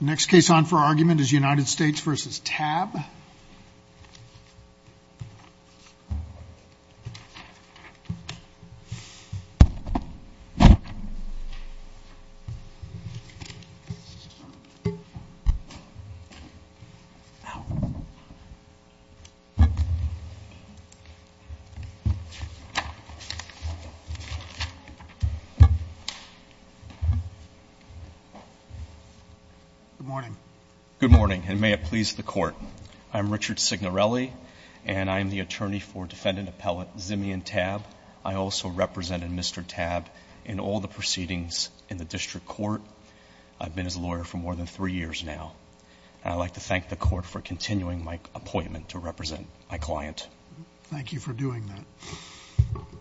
The next case on for argument is United States v. Tab. Good morning. Good morning, and may it please the court. I'm Richard Signorelli, and I am the attorney for defendant appellate Zimian Tab. I also represented Mr. Tab in all the proceedings in the district court. I've been his lawyer for more than three years now. And I'd like to thank the court for continuing my appointment to represent my client. Thank you for doing that.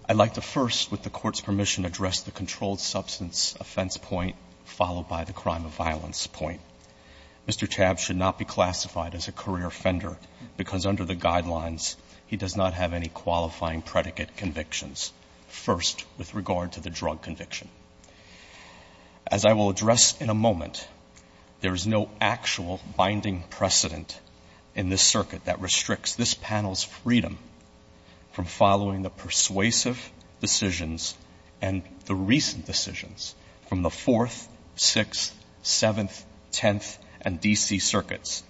I'd like to first, with the court's permission, address the controlled substance offense point, followed by the crime of violence point. Mr. Tab should not be classified as a career offender because under the guidelines, he does not have any qualifying predicate convictions. First, with regard to the drug conviction. As I will address in a moment, there is no actual binding precedent in this circuit that restricts this panel's freedom from following the persuasive decisions and the recent decisions from the 4th, 6th, 7th, 10th, and D.C. circuits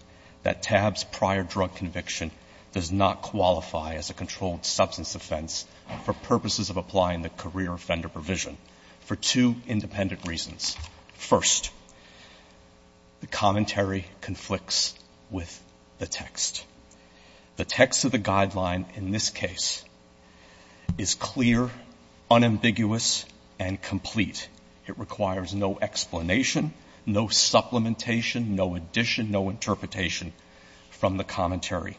that Tab's prior drug conviction does not qualify as a controlled substance offense for purposes of applying the career offender provision for two independent reasons. First, the commentary conflicts with the text. The text of the guideline in this case is clear, unambiguous, and complete. It requires no explanation, no supplementation, no addition, no interpretation from the commentary.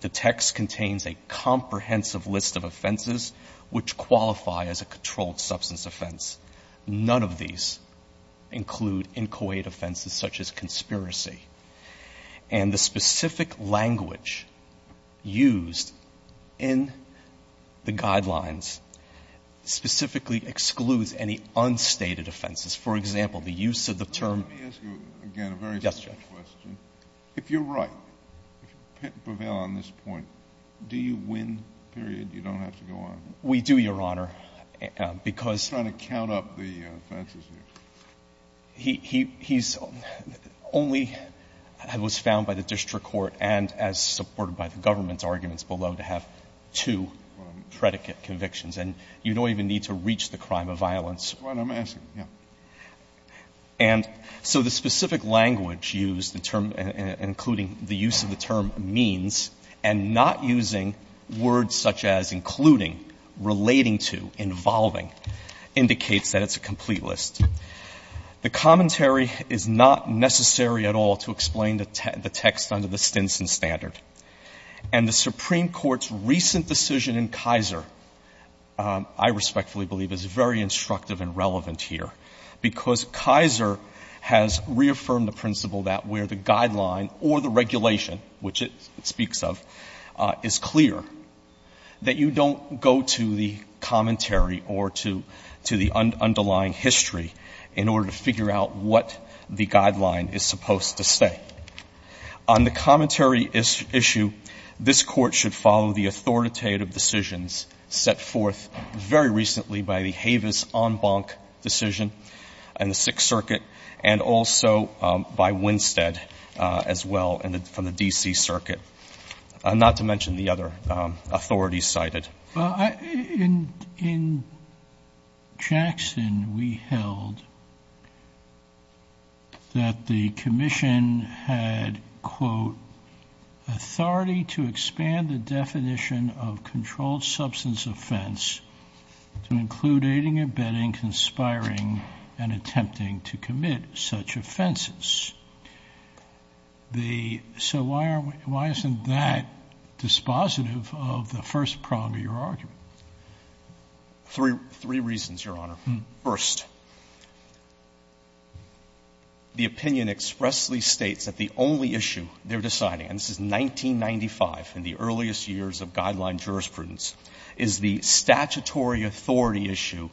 The text contains a comprehensive list of offenses which qualify as a controlled substance offense. None of these include inchoate offenses such as conspiracy. And the specific language used in the guidelines specifically excludes any unstated offenses. For example, the use of the term — Let me ask you, again, a very simple question. Yes, Judge. If you're right, prevail on this point, do you win, period, you don't have to go on? We do, Your Honor, because — I'm trying to count up the offenses here. He's only — it was found by the district court and as supported by the government's arguments below to have two predicate convictions. And you don't even need to reach the crime of violence. That's what I'm asking, yes. And so the specific language used, including the use of the term means, and not using words such as including, relating to, involving, indicates that it's a complete list. The commentary is not necessary at all to explain the text under the Stinson standard. And the Supreme Court's recent decision in Kaiser, I respectfully believe, is very instructive and relevant here because Kaiser has reaffirmed the principle that where the guideline or the regulation, which it speaks of, is clear, that you don't go to the commentary or to the underlying history in order to figure out what the guideline is supposed to say. On the commentary issue, this Court should follow the authoritative decisions set forth very recently by the Havis-Enbank decision in the Sixth Circuit and also by Winstead as well from the D.C. Circuit, not to mention the other authorities cited. In Jackson, we held that the commission had, quote, authority to expand the definition of controlled substance offense to include aiding, abetting, conspiring, and attempting to commit such offenses. The so why aren't we why isn't that dispositive of the first prong of your argument? Three reasons, Your Honor. First, the opinion expressly states that the only issue they're deciding, and this was 1995, in the earliest years of guideline jurisprudence, is the statutory authority issue,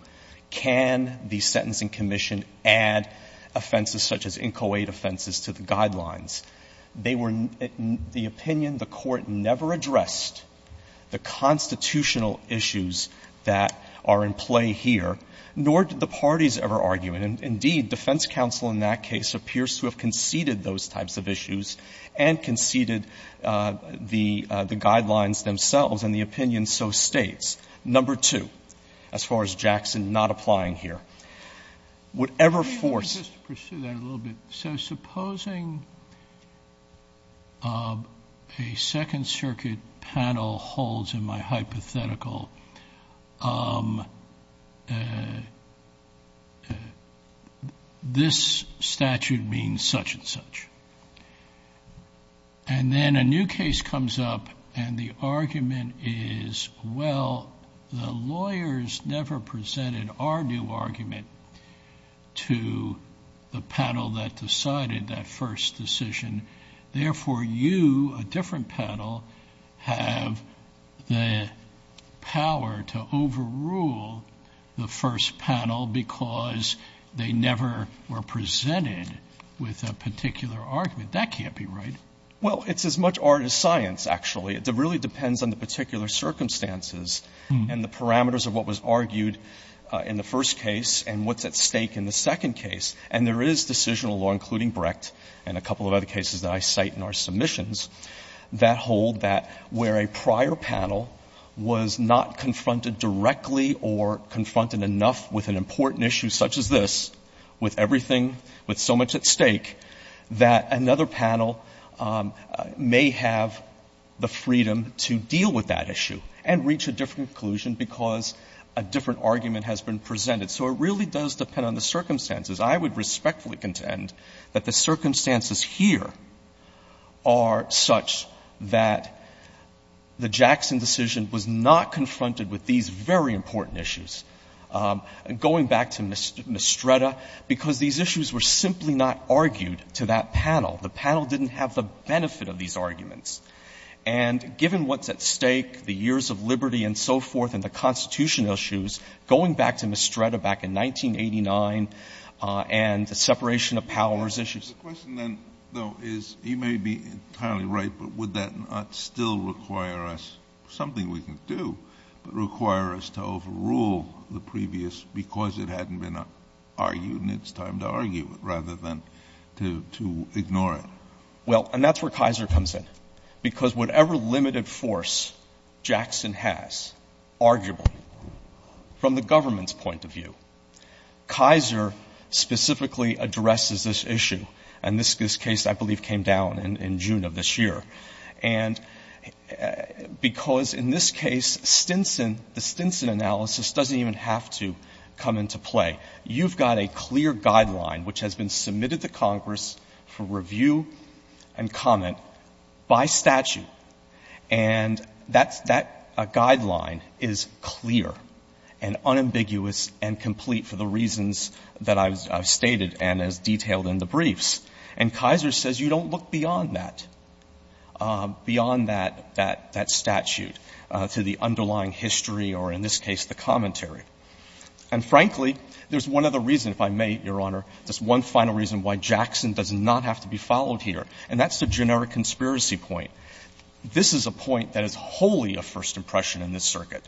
can the sentencing commission add offenses such as inchoate offenses to the guidelines. They were the opinion the Court never addressed the constitutional issues that are in play here, nor did the parties ever argue it. And indeed, defense counsel in that case appears to have conceded those types of issues and conceded the guidelines themselves. And the opinion so states. Number two, as far as Jackson not applying here, whatever force. Let me just pursue that a little bit. So supposing a Second Circuit panel holds in my hypothetical, this statute means such and such. And then a new case comes up and the argument is, well, the lawyers never presented our new argument to the panel that decided that first decision. Therefore, you, a different panel, have the power to overrule the first panel because they never were presented with a particular argument. That can't be right. Well, it's as much art as science, actually. It really depends on the particular circumstances and the parameters of what was argued in the first case and what's at stake in the second case. And there is decisional law, including Brecht and a couple of other cases that I cite in our submissions, that hold that where a prior panel was not confronted directly or confronted enough with an important issue such as this, with everything with so much at stake, that another panel may have the freedom to deal with that a different argument has been presented. So it really does depend on the circumstances. I would respectfully contend that the circumstances here are such that the Jackson decision was not confronted with these very important issues. Going back to Mistretta, because these issues were simply not argued to that panel. The panel didn't have the benefit of these arguments. And given what's at stake, the years of liberty and so forth, and the constitutional issues, going back to Mistretta back in 1989 and the separation of powers issues. The question then, though, is you may be entirely right, but would that not still require us something we can do, but require us to overrule the previous because it hadn't been argued and it's time to argue it rather than to ignore it? Well, and that's where Kaiser comes in. Because whatever limited force Jackson has, arguably, from the government's point of view, Kaiser specifically addresses this issue. And this case, I believe, came down in June of this year. And because in this case, Stinson, the Stinson analysis doesn't even have to come into play. You've got a clear guideline, which has been submitted to Congress for review and comment by statute, and that guideline is clear and unambiguous and complete for the reasons that I've stated and as detailed in the briefs. And Kaiser says you don't look beyond that, beyond that statute, to the underlying And frankly, there's one other reason, if I may, Your Honor, just one final reason why Jackson does not have to be followed here, and that's the generic conspiracy point. This is a point that is wholly a first impression in this circuit.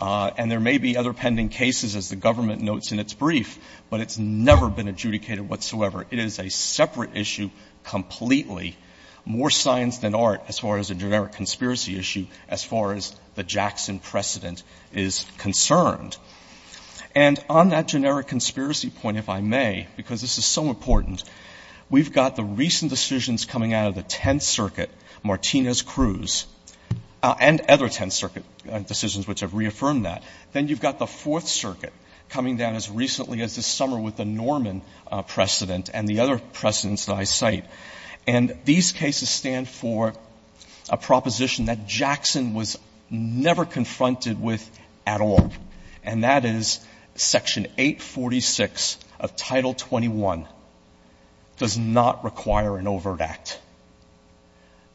And there may be other pending cases, as the government notes in its brief, but it's never been adjudicated whatsoever. It is a separate issue completely, more science than art, as far as a generic conspiracy precedent is concerned. And on that generic conspiracy point, if I may, because this is so important, we've got the recent decisions coming out of the Tenth Circuit, Martinez-Cruz and other Tenth Circuit decisions which have reaffirmed that. Then you've got the Fourth Circuit coming down as recently as this summer with the Norman precedent and the other precedents that I cite. And these cases stand for a proposition that Jackson was never confronted with at all, and that is Section 846 of Title 21 does not require an overt act.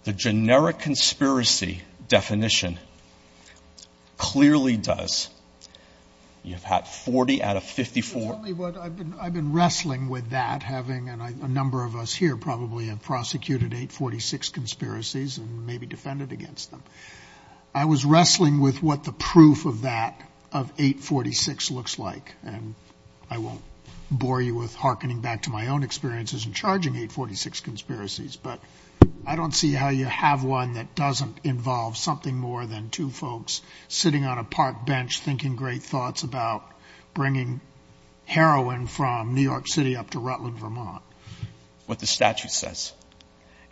The generic conspiracy definition clearly does. You have had 40 out of 54. I've been wrestling with that, having a number of us here probably have prosecuted 846 conspiracies and maybe defended against them. I was wrestling with what the proof of that, of 846, looks like. And I won't bore you with hearkening back to my own experiences in charging 846 conspiracies, but I don't see how you have one that doesn't involve something more than two folks sitting on a park bench thinking great thoughts about bringing heroin from New York City up to Rutland, Vermont. What the statute says.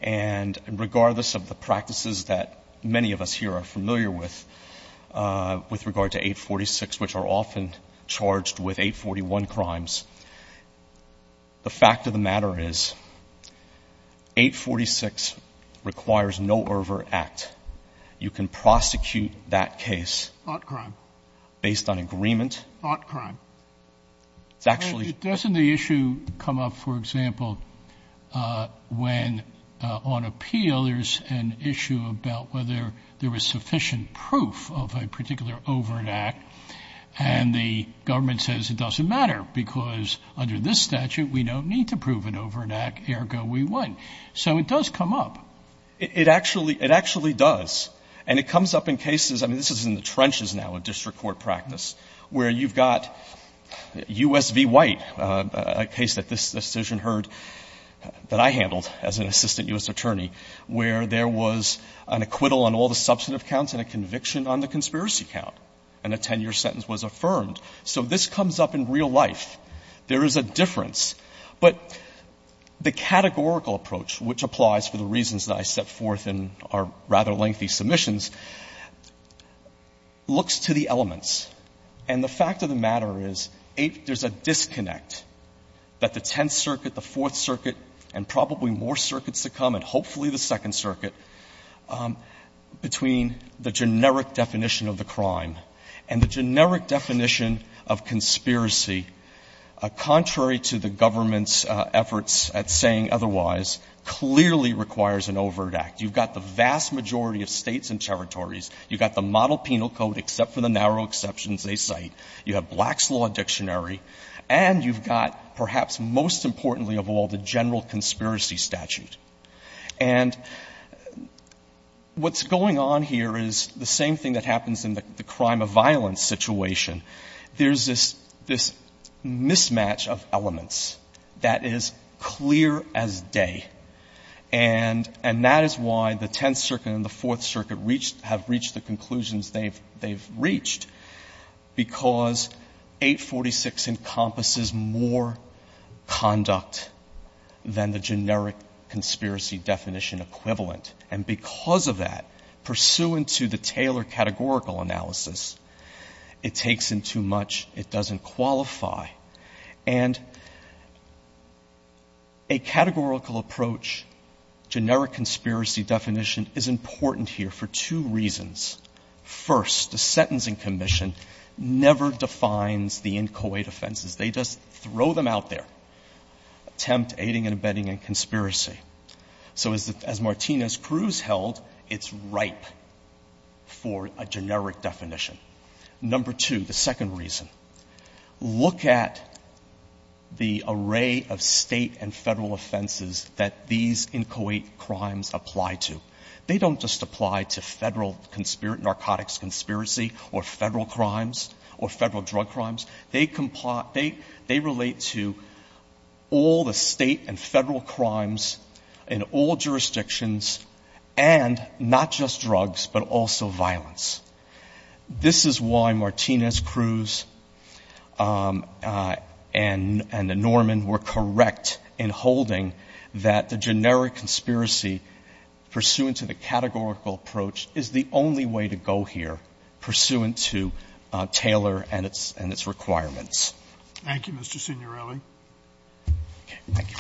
And regardless of the practices that many of us here are familiar with, with regard to 846, which are often charged with 841 crimes, the fact of the matter is 846 requires no overt act. You can prosecute that case. Hot crime. Based on agreement. Hot crime. It's actually. Doesn't the issue come up, for example, when on appeal there's an issue about whether there was sufficient proof of a particular overt act, and the government says it doesn't matter because under this statute we don't need to prove an overt act, ergo we win. So it does come up. It actually does. And it comes up in cases, I mean, this is in the trenches now of district court practice, where you've got U.S. v. White, a case that this decision heard that I handled as an assistant U.S. attorney, where there was an acquittal on all the substantive counts and a conviction on the conspiracy count, and a 10-year sentence was affirmed. So this comes up in real life. There is a difference. But the categorical approach, which applies for the reasons that I set forth in our rather lengthy submissions, looks to the elements. And the fact of the matter is there's a disconnect that the Tenth Circuit, the Fourth Circuit, and probably more circuits to come, and hopefully the Second Circuit, between the generic definition of the crime and the generic definition of conspiracy contrary to the government's efforts at saying otherwise clearly requires an overt act. You've got the vast majority of states and territories. You've got the model penal code, except for the narrow exceptions they cite. You have Black's Law Dictionary. And you've got, perhaps most importantly of all, the general conspiracy statute. And what's going on here is the same thing that happens in the crime of violence situation. There's this mismatch of elements that is clear as day. And that is why the Tenth Circuit and the Fourth Circuit have reached the conclusions they've reached, because 846 encompasses more conduct than the generic conspiracy definition equivalent. And because of that, pursuant to the Taylor categorical analysis, it takes in too much. It doesn't qualify. And a categorical approach, generic conspiracy definition, is important here for two reasons. First, the Sentencing Commission never defines the inchoate offenses. They just throw them out there, attempt aiding and abetting and conspiracy. So as Martínez-Cruz held, it's ripe for a generic definition. Number two, the second reason, look at the array of State and Federal offenses that these inchoate crimes apply to. They don't just apply to Federal narcotics conspiracy or Federal crimes or Federal drug crimes. They relate to all the State and Federal crimes in all jurisdictions, and not just drugs, but also violence. This is why Martínez-Cruz and the Norman were correct in holding that the generic conspiracy pursuant to the categorical approach is the only way to go here pursuant to Taylor and its requirements. Thank you, Mr. Signorelli. Okay. Thank you.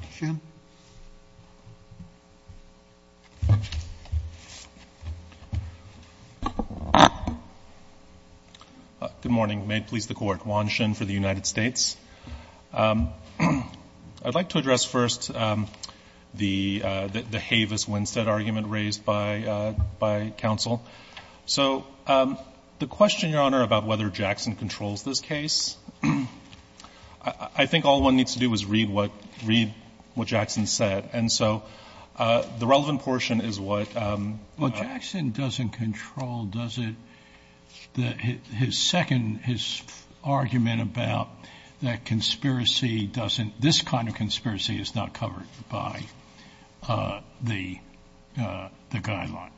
Mr. Shinn. Good morning. May it please the Court. Juan Shinn for the United States. I'd like to address first the Havis-Winstead argument raised by counsel. So the question, Your Honor, about whether Jackson controls this case, I think all one needs to do is read what Jackson said. And so the relevant portion is what? Well, Jackson doesn't control, does it? His second, his argument about that conspiracy doesn't, this kind of conspiracy is not covered by the guideline.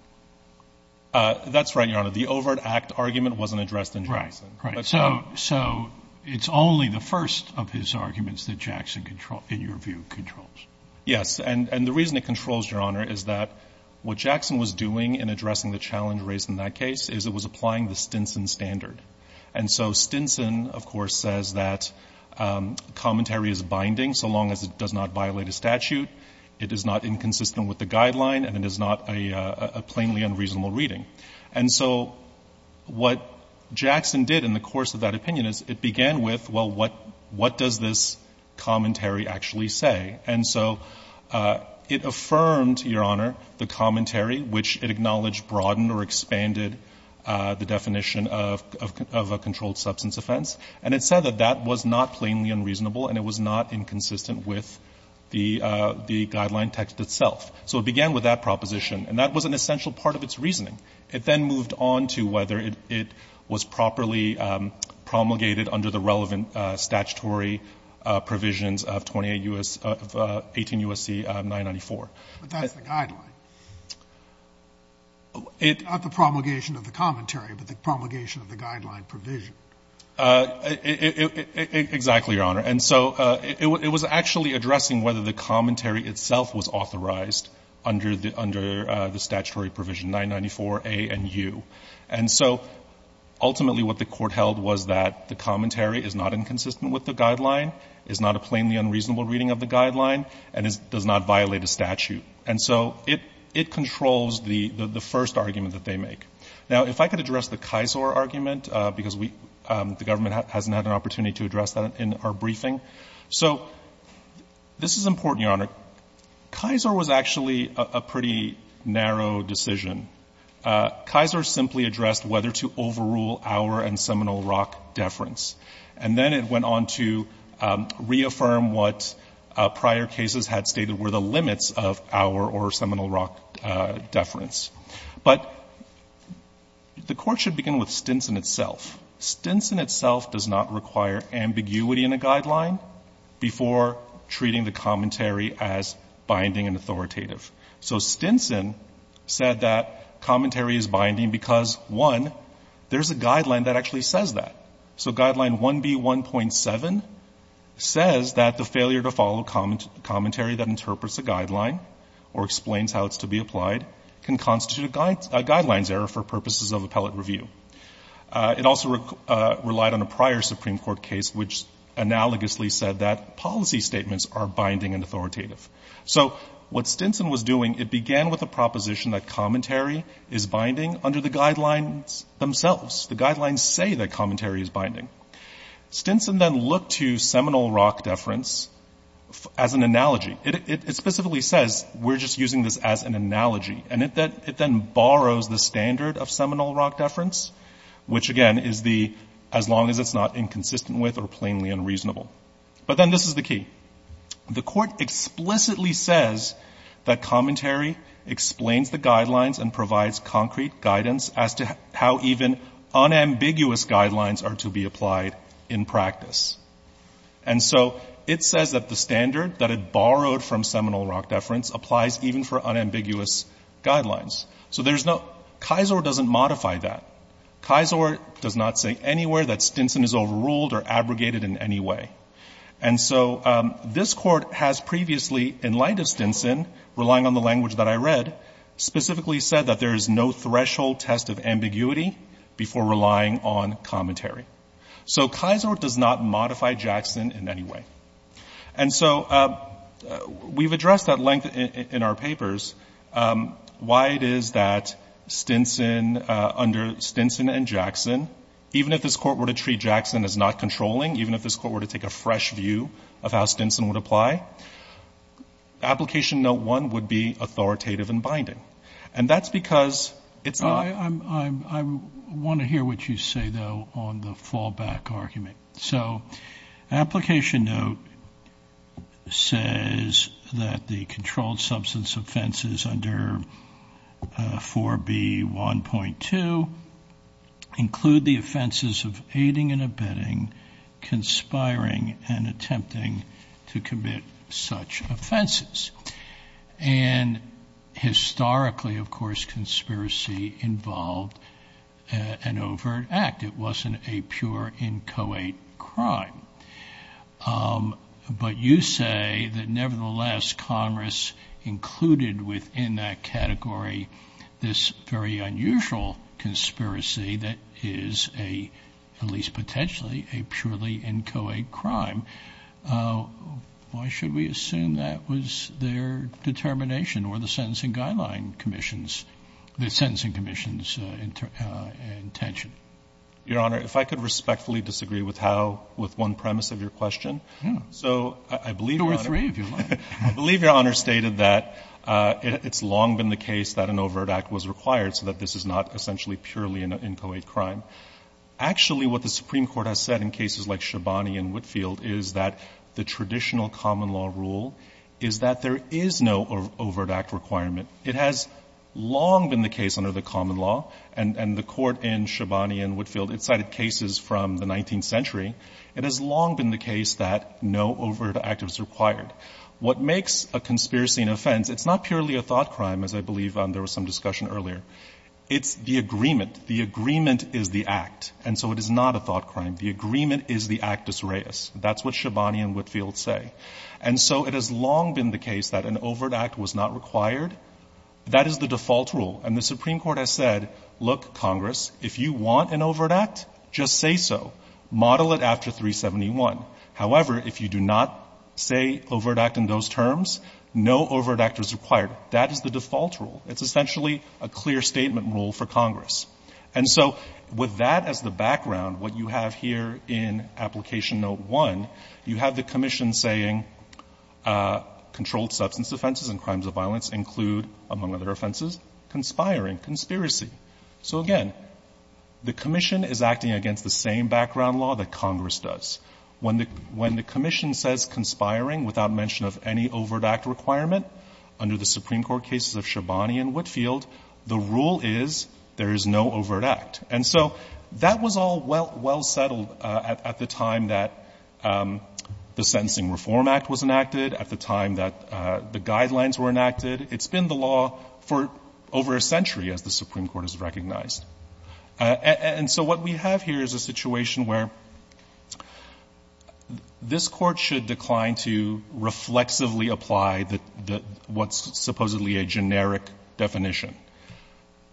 That's right, Your Honor. The Overt Act argument wasn't addressed in Jackson. Right, right. So it's only the first of his arguments that Jackson, in your view, controls. Yes. And the reason it controls, Your Honor, is that what Jackson was doing in addressing the challenge raised in that case is it was applying the Stinson standard. And so Stinson, of course, says that commentary is binding so long as it does not violate a statute, it is not inconsistent with the guideline, and it is not a plainly unreasonable reading. And so what Jackson did in the course of that opinion is it began with, well, what does this commentary actually say? And so it affirmed, Your Honor, the commentary, which it acknowledged broadened or expanded the definition of a controlled substance offense, and it said that that was not plainly unreasonable and it was not inconsistent with the guideline text itself. So it began with that proposition. And that was an essential part of its reasoning. It then moved on to whether it was properly promulgated under the relevant statutory provisions of 18 U.S.C. 994. But that's the guideline, not the promulgation of the commentary, but the promulgation of the guideline provision. Exactly, Your Honor. And so it was actually addressing whether the commentary itself was authorized under the statutory provision 994A and U. And so ultimately what the court held was that the commentary is not inconsistent with the guideline, is not a plainly unreasonable reading of the guideline, and does not violate a statute. And so it controls the first argument that they make. Now, if I could address the Kisor argument, because the government hasn't had an So this is important, Your Honor. Kisor was actually a pretty narrow decision. Kisor simply addressed whether to overrule Auer and Seminole Rock deference. And then it went on to reaffirm what prior cases had stated were the limits of Auer or Seminole Rock deference. But the court should begin with Stinson itself. Stinson itself does not require ambiguity in a guideline before treating the commentary as binding and authoritative. So Stinson said that commentary is binding because, one, there's a guideline that actually says that. So Guideline 1B.1.7 says that the failure to follow commentary that interprets a guideline or explains how it's to be applied can constitute a guidelines error for purposes of appellate review. It also relied on a prior Supreme Court case, which analogously said that policy statements are binding and authoritative. So what Stinson was doing, it began with a proposition that commentary is binding under the guidelines themselves. The guidelines say that commentary is binding. Stinson then looked to Seminole Rock deference as an analogy. It specifically says, we're just using this as an analogy. And it then borrows the standard of Seminole Rock deference, which, again, is the as long as it's not inconsistent with or plainly unreasonable. But then this is the key. The court explicitly says that commentary explains the guidelines and provides concrete guidance as to how even unambiguous guidelines are to be applied in practice. And so it says that the standard that it borrowed from Seminole Rock deference applies even for unambiguous guidelines. So there's no, Kisor doesn't modify that. Kisor does not say anywhere that Stinson is overruled or abrogated in any way. And so this court has previously, in light of Stinson, relying on the language that I read, specifically said that there is no threshold test of ambiguity before relying on commentary. So Kisor does not modify Jackson in any way. And so we've addressed that length in our papers. Why it is that Stinson, under Stinson and Jackson, even if this court were to treat Jackson as not controlling, even if this court were to take a fresh view of how Stinson would apply, Application Note 1 would be authoritative and binding. And that's because it's not. I want to hear what you say, though, on the fallback argument. So Application Note says that the controlled substance offenses under 4B1.2 include the offenses of aiding and abetting, conspiring, and attempting to commit such offenses. And historically, of course, conspiracy involved an overt act. It wasn't a pure, inchoate crime. But you say that, nevertheless, Congress included within that category this very unusual conspiracy that is a, at least potentially, a purely inchoate crime. Why should we assume that was their determination or the Sentencing Guideline Commission's the Sentencing Commission's intention? Your Honor, if I could respectfully disagree with how, with one premise of your question. So I believe Your Honor. Two or three, if you like. I believe Your Honor stated that it's long been the case that an overt act was required so that this is not essentially purely an inchoate crime. Actually, what the Supreme Court has said in cases like Shabani and Whitfield is that the traditional common law rule is that there is no overt act requirement. It has long been the case under the common law, and the Court in Shabani and Whitfield, it cited cases from the 19th century. It has long been the case that no overt act was required. What makes a conspiracy an offense, it's not purely a thought crime, as I believe there was some discussion earlier. It's the agreement. The agreement is the act, and so it is not a thought crime. The agreement is the actus reus. That's what Shabani and Whitfield say. And so it has long been the case that an overt act was not required. That is the default rule. And the Supreme Court has said, look, Congress, if you want an overt act, just say so. Model it after 371. However, if you do not say overt act in those terms, no overt act is required. That is the default rule. It's essentially a clear statement rule for Congress. And so with that as the background, what you have here in Application Note 1, you have the commission saying controlled substance offenses and crimes of violence include, among other offenses, conspiring, conspiracy. So, again, the commission is acting against the same background law that Congress does. When the commission says conspiring without mention of any overt act requirement under the Supreme Court cases of Shabani and Whitfield, the rule is there is no overt act. And so that was all well settled at the time that the Sentencing Reform Act was enacted, at the time that the guidelines were enacted. It's been the law for over a century, as the Supreme Court has recognized. And so what we have here is a situation where this Court should decline to reflexively apply what's supposedly a generic definition.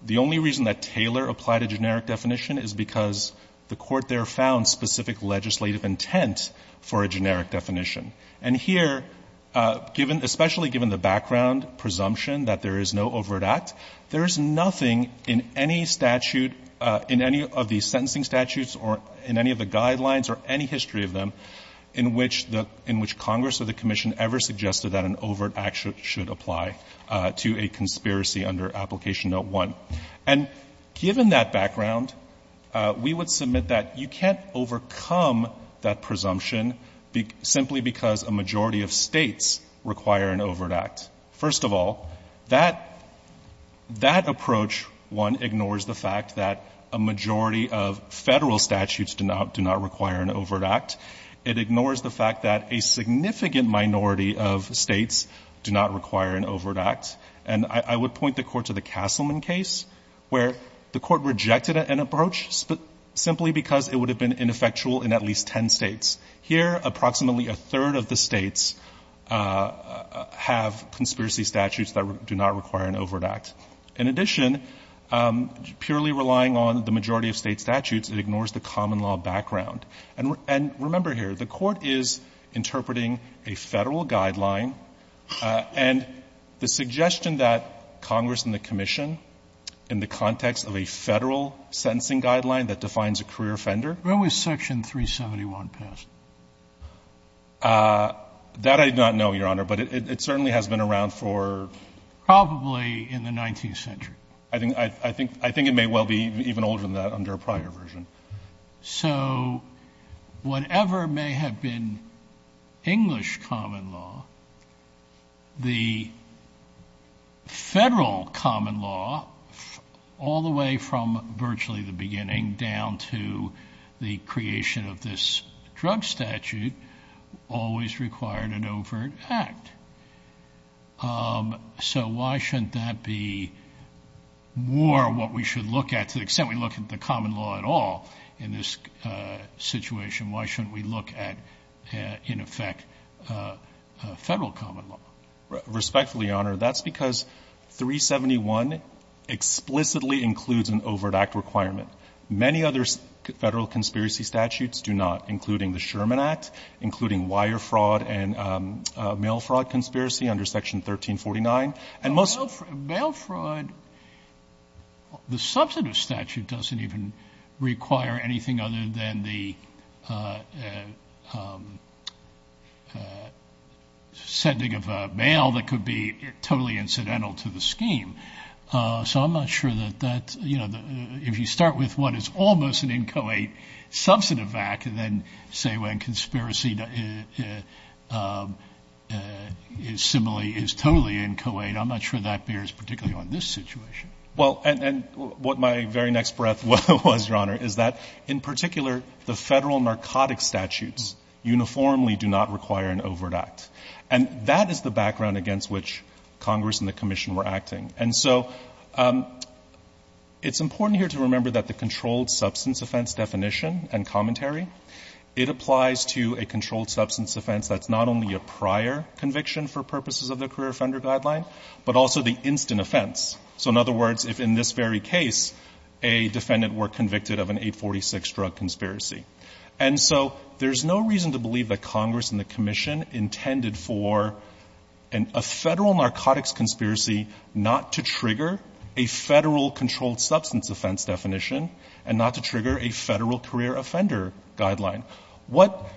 The only reason that Taylor applied a generic definition is because the Court there found specific legislative intent for a generic definition. And here, especially given the background presumption that there is no overt act, there is nothing in any statute, in any of the sentencing statutes or in any of the statutes that an overt act should apply to a conspiracy under Application Note I. And given that background, we would submit that you can't overcome that presumption simply because a majority of States require an overt act. First of all, that approach, one, ignores the fact that a majority of Federal statutes do not require an overt act. It ignores the fact that a significant minority of States do not require an overt act. And I would point the Court to the Castleman case, where the Court rejected an approach simply because it would have been ineffectual in at least ten States. Here, approximately a third of the States have conspiracy statutes that do not require an overt act. In addition, purely relying on the majority of State statutes, it ignores the common law background. And remember here, the Court is interpreting a Federal guideline, and the suggestion that Congress and the Commission, in the context of a Federal sentencing guideline that defines a career offender. Sotomayor, when was Section 371 passed? That I do not know, Your Honor, but it certainly has been around for ---- Probably in the 19th century. I think it may well be even older than that under a prior version. So whatever may have been English common law, the Federal common law, all the way from virtually the beginning down to the creation of this drug statute, always required an overt act. So why shouldn't that be more what we should look at, to the extent we look at the Federal common law in this situation, why shouldn't we look at, in effect, Federal common law? Respectfully, Your Honor, that's because 371 explicitly includes an overt act requirement. Many other Federal conspiracy statutes do not, including the Sherman Act, including wire fraud and mail fraud conspiracy under Section 1349. Mail fraud, the substantive statute doesn't even require anything other than the sending of a mail that could be totally incidental to the scheme. So I'm not sure that that, you know, if you start with what is almost an inchoate substantive act, and then say when conspiracy is similarly, is totally inchoate, I'm not sure that bears particularly on this situation. Well, and what my very next breath was, Your Honor, is that in particular, the Federal narcotic statutes uniformly do not require an overt act. And that is the background against which Congress and the Commission were acting. And so it's important here to remember that the controlled substance offense definition and commentary, it applies to a controlled substance offense that's not only a prior conviction for purposes of the career offender guideline, but also the instant offense. So in other words, if in this very case, a defendant were convicted of an 846 drug conspiracy. And so there's no reason to believe that Congress and the Commission intended for a Federal narcotics conspiracy not to trigger a Federal controlled substance offense definition and not to trigger a Federal career offender guideline. What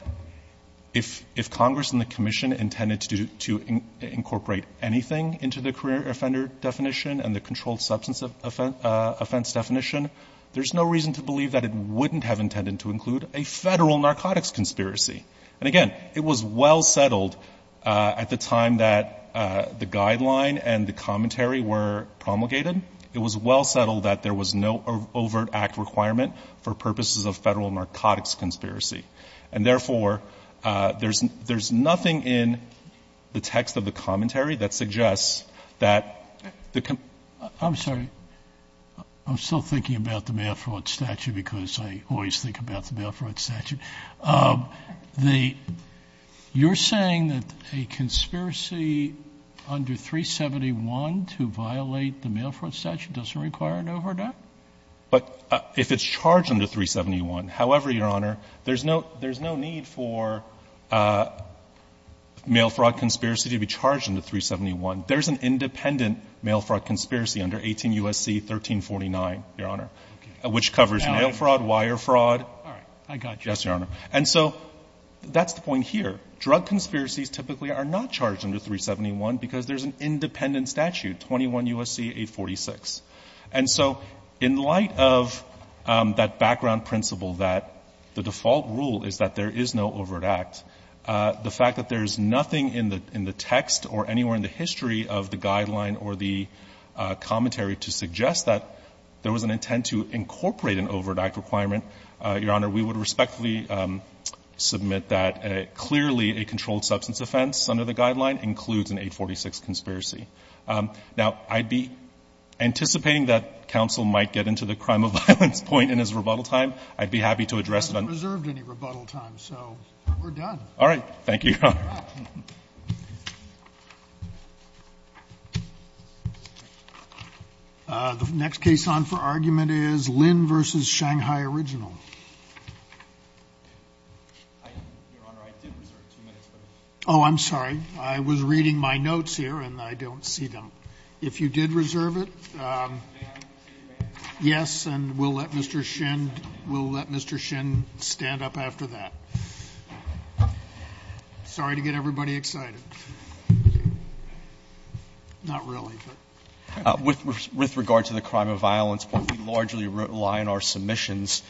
if Congress and the Commission intended to incorporate anything into the career offender definition and the controlled substance offense definition? There's no reason to believe that it wouldn't have intended to include a Federal narcotics conspiracy. And again, it was well settled at the time that the guideline and the commentary were promulgated. It was well settled that there was no overt act requirement for purposes of Federal narcotics conspiracy. And therefore, there's nothing in the text of the commentary that suggests that the... I'm sorry. I'm still thinking about the mail fraud statute because I always think about the mail fraud statute. The you're saying that a conspiracy under 371 to violate the mail fraud statute doesn't require an overt act? But if it's charged under 371, however, Your Honor, there's no need for mail fraud conspiracy to be charged under 371. There's an independent mail fraud conspiracy under 18 U.S.C. 1349, Your Honor, which covers mail fraud, wire fraud. All right. I got you. Yes, Your Honor. And so that's the point here. Drug conspiracies typically are not charged under 371 because there's an independent statute, 21 U.S.C. 846. And so in light of that background principle that the default rule is that there is no overt act, the fact that there's nothing in the text or anywhere in the history Your Honor, we would respectfully submit that clearly a controlled substance offense under the guideline includes an 846 conspiracy. Now, I'd be anticipating that counsel might get into the crime of violence point in his rebuttal time. I'd be happy to address it on... I haven't reserved any rebuttal time, so we're done. Thank you, Your Honor. The next case on for argument is Lin v. Shanghai Original. Oh, I'm sorry. I was reading my notes here, and I don't see them. If you did reserve it, yes, and we'll let Mr. Shin stand up after that. Sorry to get everybody excited. Not really, but... With regard to the crime of violence, we largely rely on our submissions,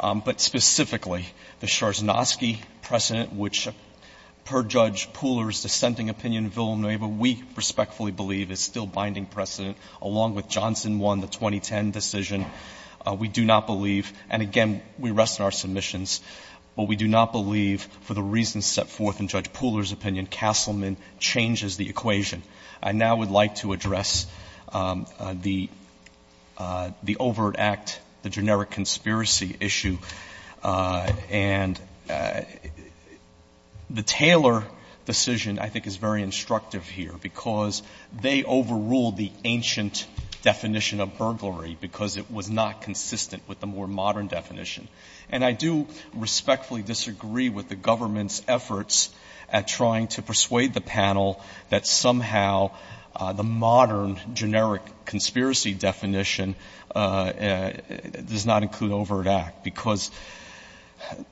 but specifically the Scharzenoski precedent, which per Judge Pooler's dissenting opinion in Villanueva, we respectfully believe is still binding precedent, along with Johnson 1, the 2010 decision. We do not believe, and again, we rest on our submissions, but we do not believe, for the reasons set forth in Judge Pooler's opinion, Castleman changes the equation. I now would like to address the overt act, the generic conspiracy issue, and the Taylor decision, I think, is very instructive here because they overruled the ancient definition of burglary because it was not consistent with the more modern definition. And I do respectfully disagree with the government's efforts at trying to persuade the panel that somehow the modern generic conspiracy definition does not include overt act because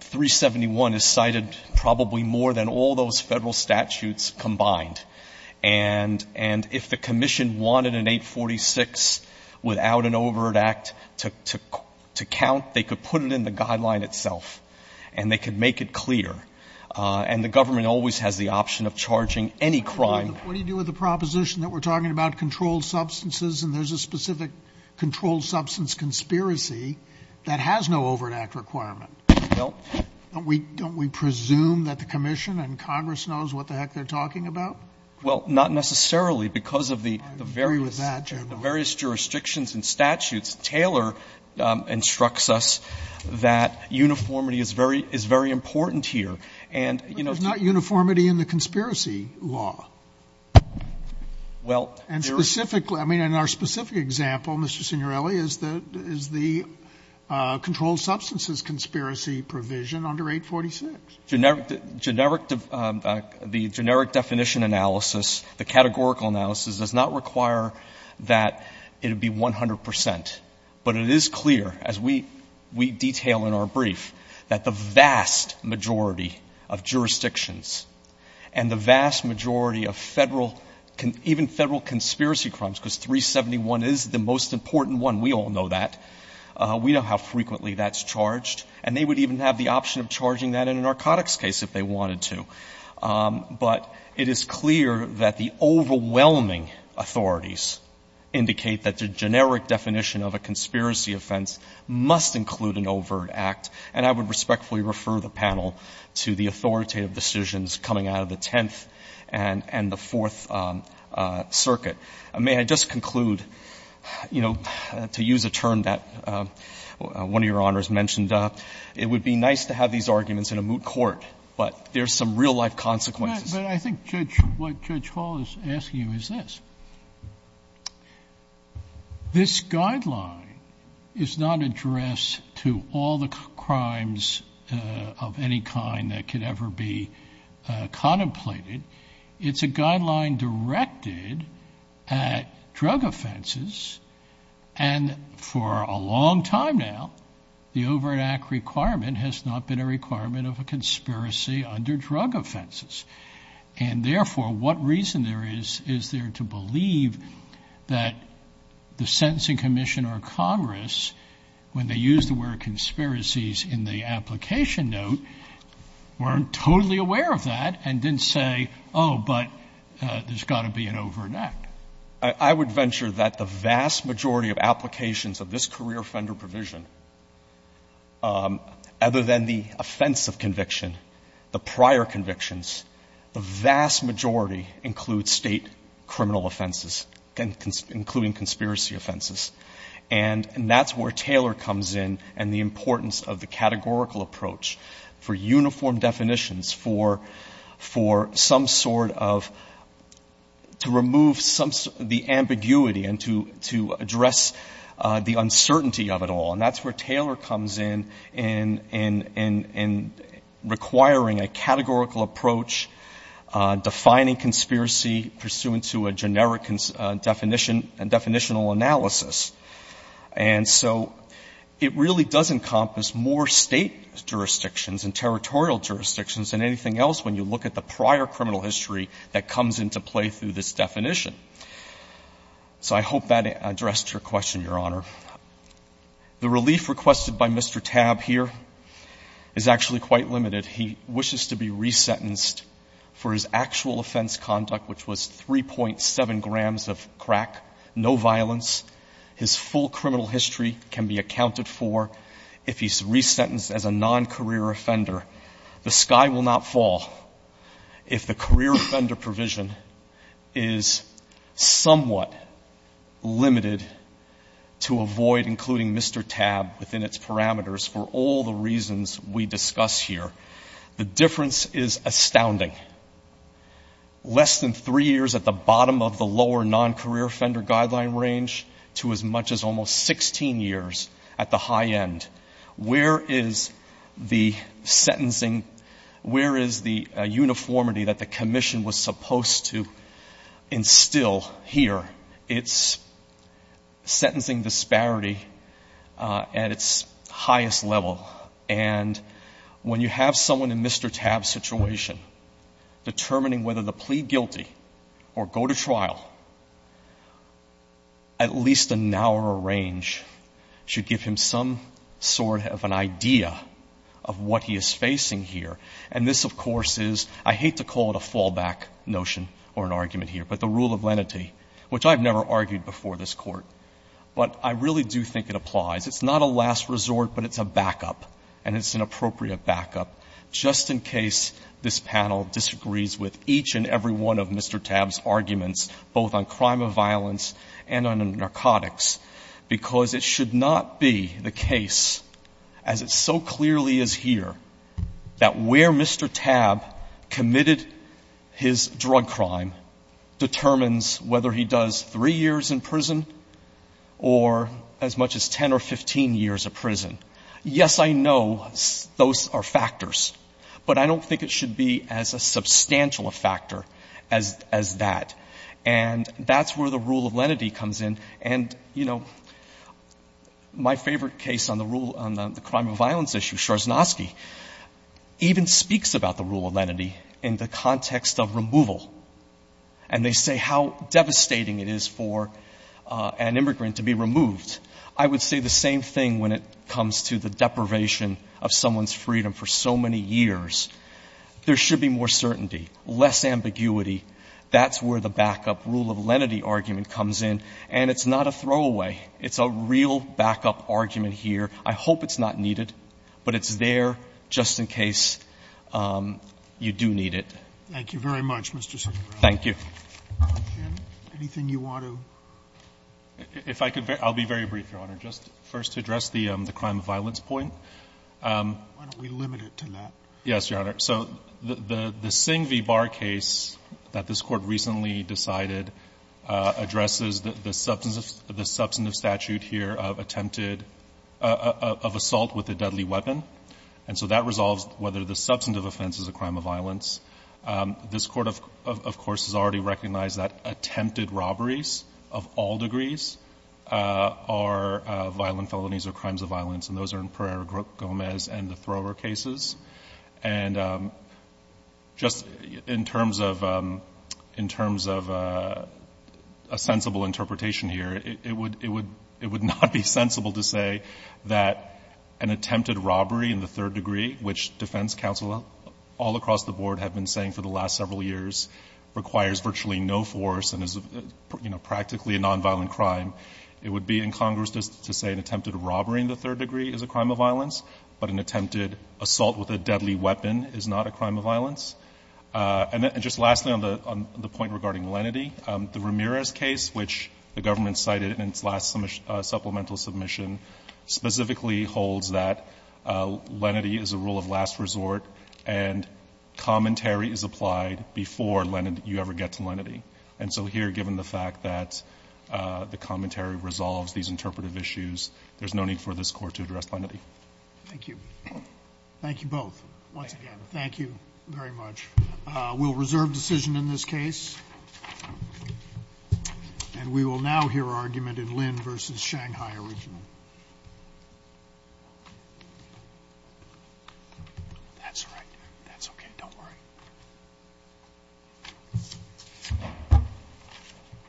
371 is cited probably more than all those federal statutes combined. And if the commission wanted an 846 without an overt act to count, they could put it in the guideline itself and they could make it clear. And the government always has the option of charging any crime. Sotomayor, what do you do with the proposition that we're talking about controlled substances and there's a specific controlled substance conspiracy that has no overt act requirement? Nope. Don't we presume that the commission and Congress knows what the heck they're talking about? Well, not necessarily because of the various jurisdictions and statutes. Taylor instructs us that uniformity is very important here. But there's not uniformity in the conspiracy law. Well, there is. And specifically, I mean, in our specific example, Mr. Signorelli, is the controlled substances conspiracy provision under 846. The generic definition analysis, the categorical analysis, does not require that it would be 100%. But it is clear, as we detail in our brief, that the vast majority of jurisdictions and the vast majority of federal, even federal conspiracy crimes, because 371 is the most important one. We all know that. We know how frequently that's charged. And they would even have the option of charging that in a narcotics case if they wanted to. But it is clear that the overwhelming authorities indicate that the generic definition of a conspiracy offense must include an overt act. And I would respectfully refer the panel to the authoritative decisions coming out of the Tenth and the Fourth Circuit. May I just conclude, you know, to use a term that one of Your Honors mentioned, it would be nice to have these arguments in a moot court, but there's some real Sotomayor. But I think, Judge, what Judge Hall is asking you is this. This guideline is not addressed to all the crimes of any kind that could ever be contemplated. It's a guideline directed at drug offenses. And for a long time now, the overt act requirement has not been a requirement of a conspiracy under drug offenses. And therefore, what reason there is, is there to believe that the sentencing commission or Congress, when they used the word conspiracies in the application note, weren't totally aware of that and didn't say, oh, but there's got to be an overt act. I would venture that the vast majority of applications of this career offender provision, other than the offense of conviction, the prior convictions, the vast majority include State criminal offenses, including conspiracy offenses. And that's where Taylor comes in and the importance of the categorical approach for uniform definitions, for some sort of to remove the ambiguity and to address the uncertainty of it all. And that's where Taylor comes in, in requiring a categorical approach, defining conspiracy pursuant to a generic definition and definitional analysis. And so it really does encompass more State jurisdictions and territorial jurisdictions than anything else when you look at the prior criminal history that comes into play through this definition. So I hope that addressed your question, Your Honor. The relief requested by Mr. Tabb here is actually quite limited. He wishes to be resentenced for his actual offense conduct, which was 3.7 grams of crack, no violence. His full criminal history can be accounted for if he's resentenced as a non-career offender. The sky will not fall if the career offender provision is somewhat limited to avoid, including Mr. Tabb, within its parameters for all the reasons we discuss here. The difference is astounding. Less than three years at the bottom of the lower non-career offender guideline range to as much as almost 16 years at the high end. Where is the sentencing, where is the uniformity that the commission was supposed to instill here? It's sentencing disparity at its highest level. And when you have someone in Mr. Tabb's situation determining whether to plead guilty or go to trial, at least a narrower range should give him some sort of an idea of what he is facing here. And this, of course, is, I hate to call it a fallback notion or an argument here, but the rule of lenity, which I've never argued before this Court. But I really do think it applies. It's not a last resort, but it's a backup. And it's an appropriate backup, just in case this panel disagrees with each and every one of Mr. Tabb's arguments, both on crime of violence and on narcotics. Because it should not be the case, as it so clearly is here, that where Mr. Tabb committed his drug crime determines whether he does three years in prison or as much as 10 or 15 years in prison. Yes, I know those are factors. But I don't think it should be as a substantial a factor as that. And that's where the rule of lenity comes in. And, you know, my favorite case on the rule on the crime of violence issue, Schwarzenoski, even speaks about the rule of lenity in the context of removal. And they say how devastating it is for an immigrant to be removed. I would say the same thing when it comes to the deprivation of someone's freedom for so many years. There should be more certainty, less ambiguity. That's where the backup rule of lenity argument comes in. And it's not a throwaway. It's a real backup argument here. I hope it's not needed. But it's there just in case you do need it. Thank you very much, Mr. Segura. Thank you. Anything you want to add? If I could, I'll be very brief, Your Honor. Just first to address the crime of violence point. Why don't we limit it to that? Yes, Your Honor. So the Singh v. Barr case that this court recently decided addresses the substantive statute here of attempted assault with a deadly weapon. And so that resolves whether the substantive offense is a crime of violence. This court, of course, has already recognized that attempted robberies of all degrees are violent felonies or crimes of violence. And those are in Pereira-Gomez and the Thrower cases. And just in terms of a sensible interpretation here, it would not be sensible to say that an attempted robbery in the third degree, which defense counsel all across the board have been saying for the last several years requires virtually no force and is practically a nonviolent crime. It would be incongruous to say an attempted robbery in the third degree is a crime of violence, but an attempted assault with a deadly weapon is not a crime of violence. And just lastly, on the point regarding lenity, the Ramirez case, which the government cited in its last supplemental submission, specifically holds that lenity is a rule of last resort and commentary is applied before you ever get to lenity. And so here, given the fact that the commentary resolves these interpretive issues, there's no need for this Court to address lenity. Thank you. Thank you both once again. Thank you very much. We'll reserve decision in this case. And we will now hear argument in Lin versus Shanghai original. That's right. That's okay. Don't worry.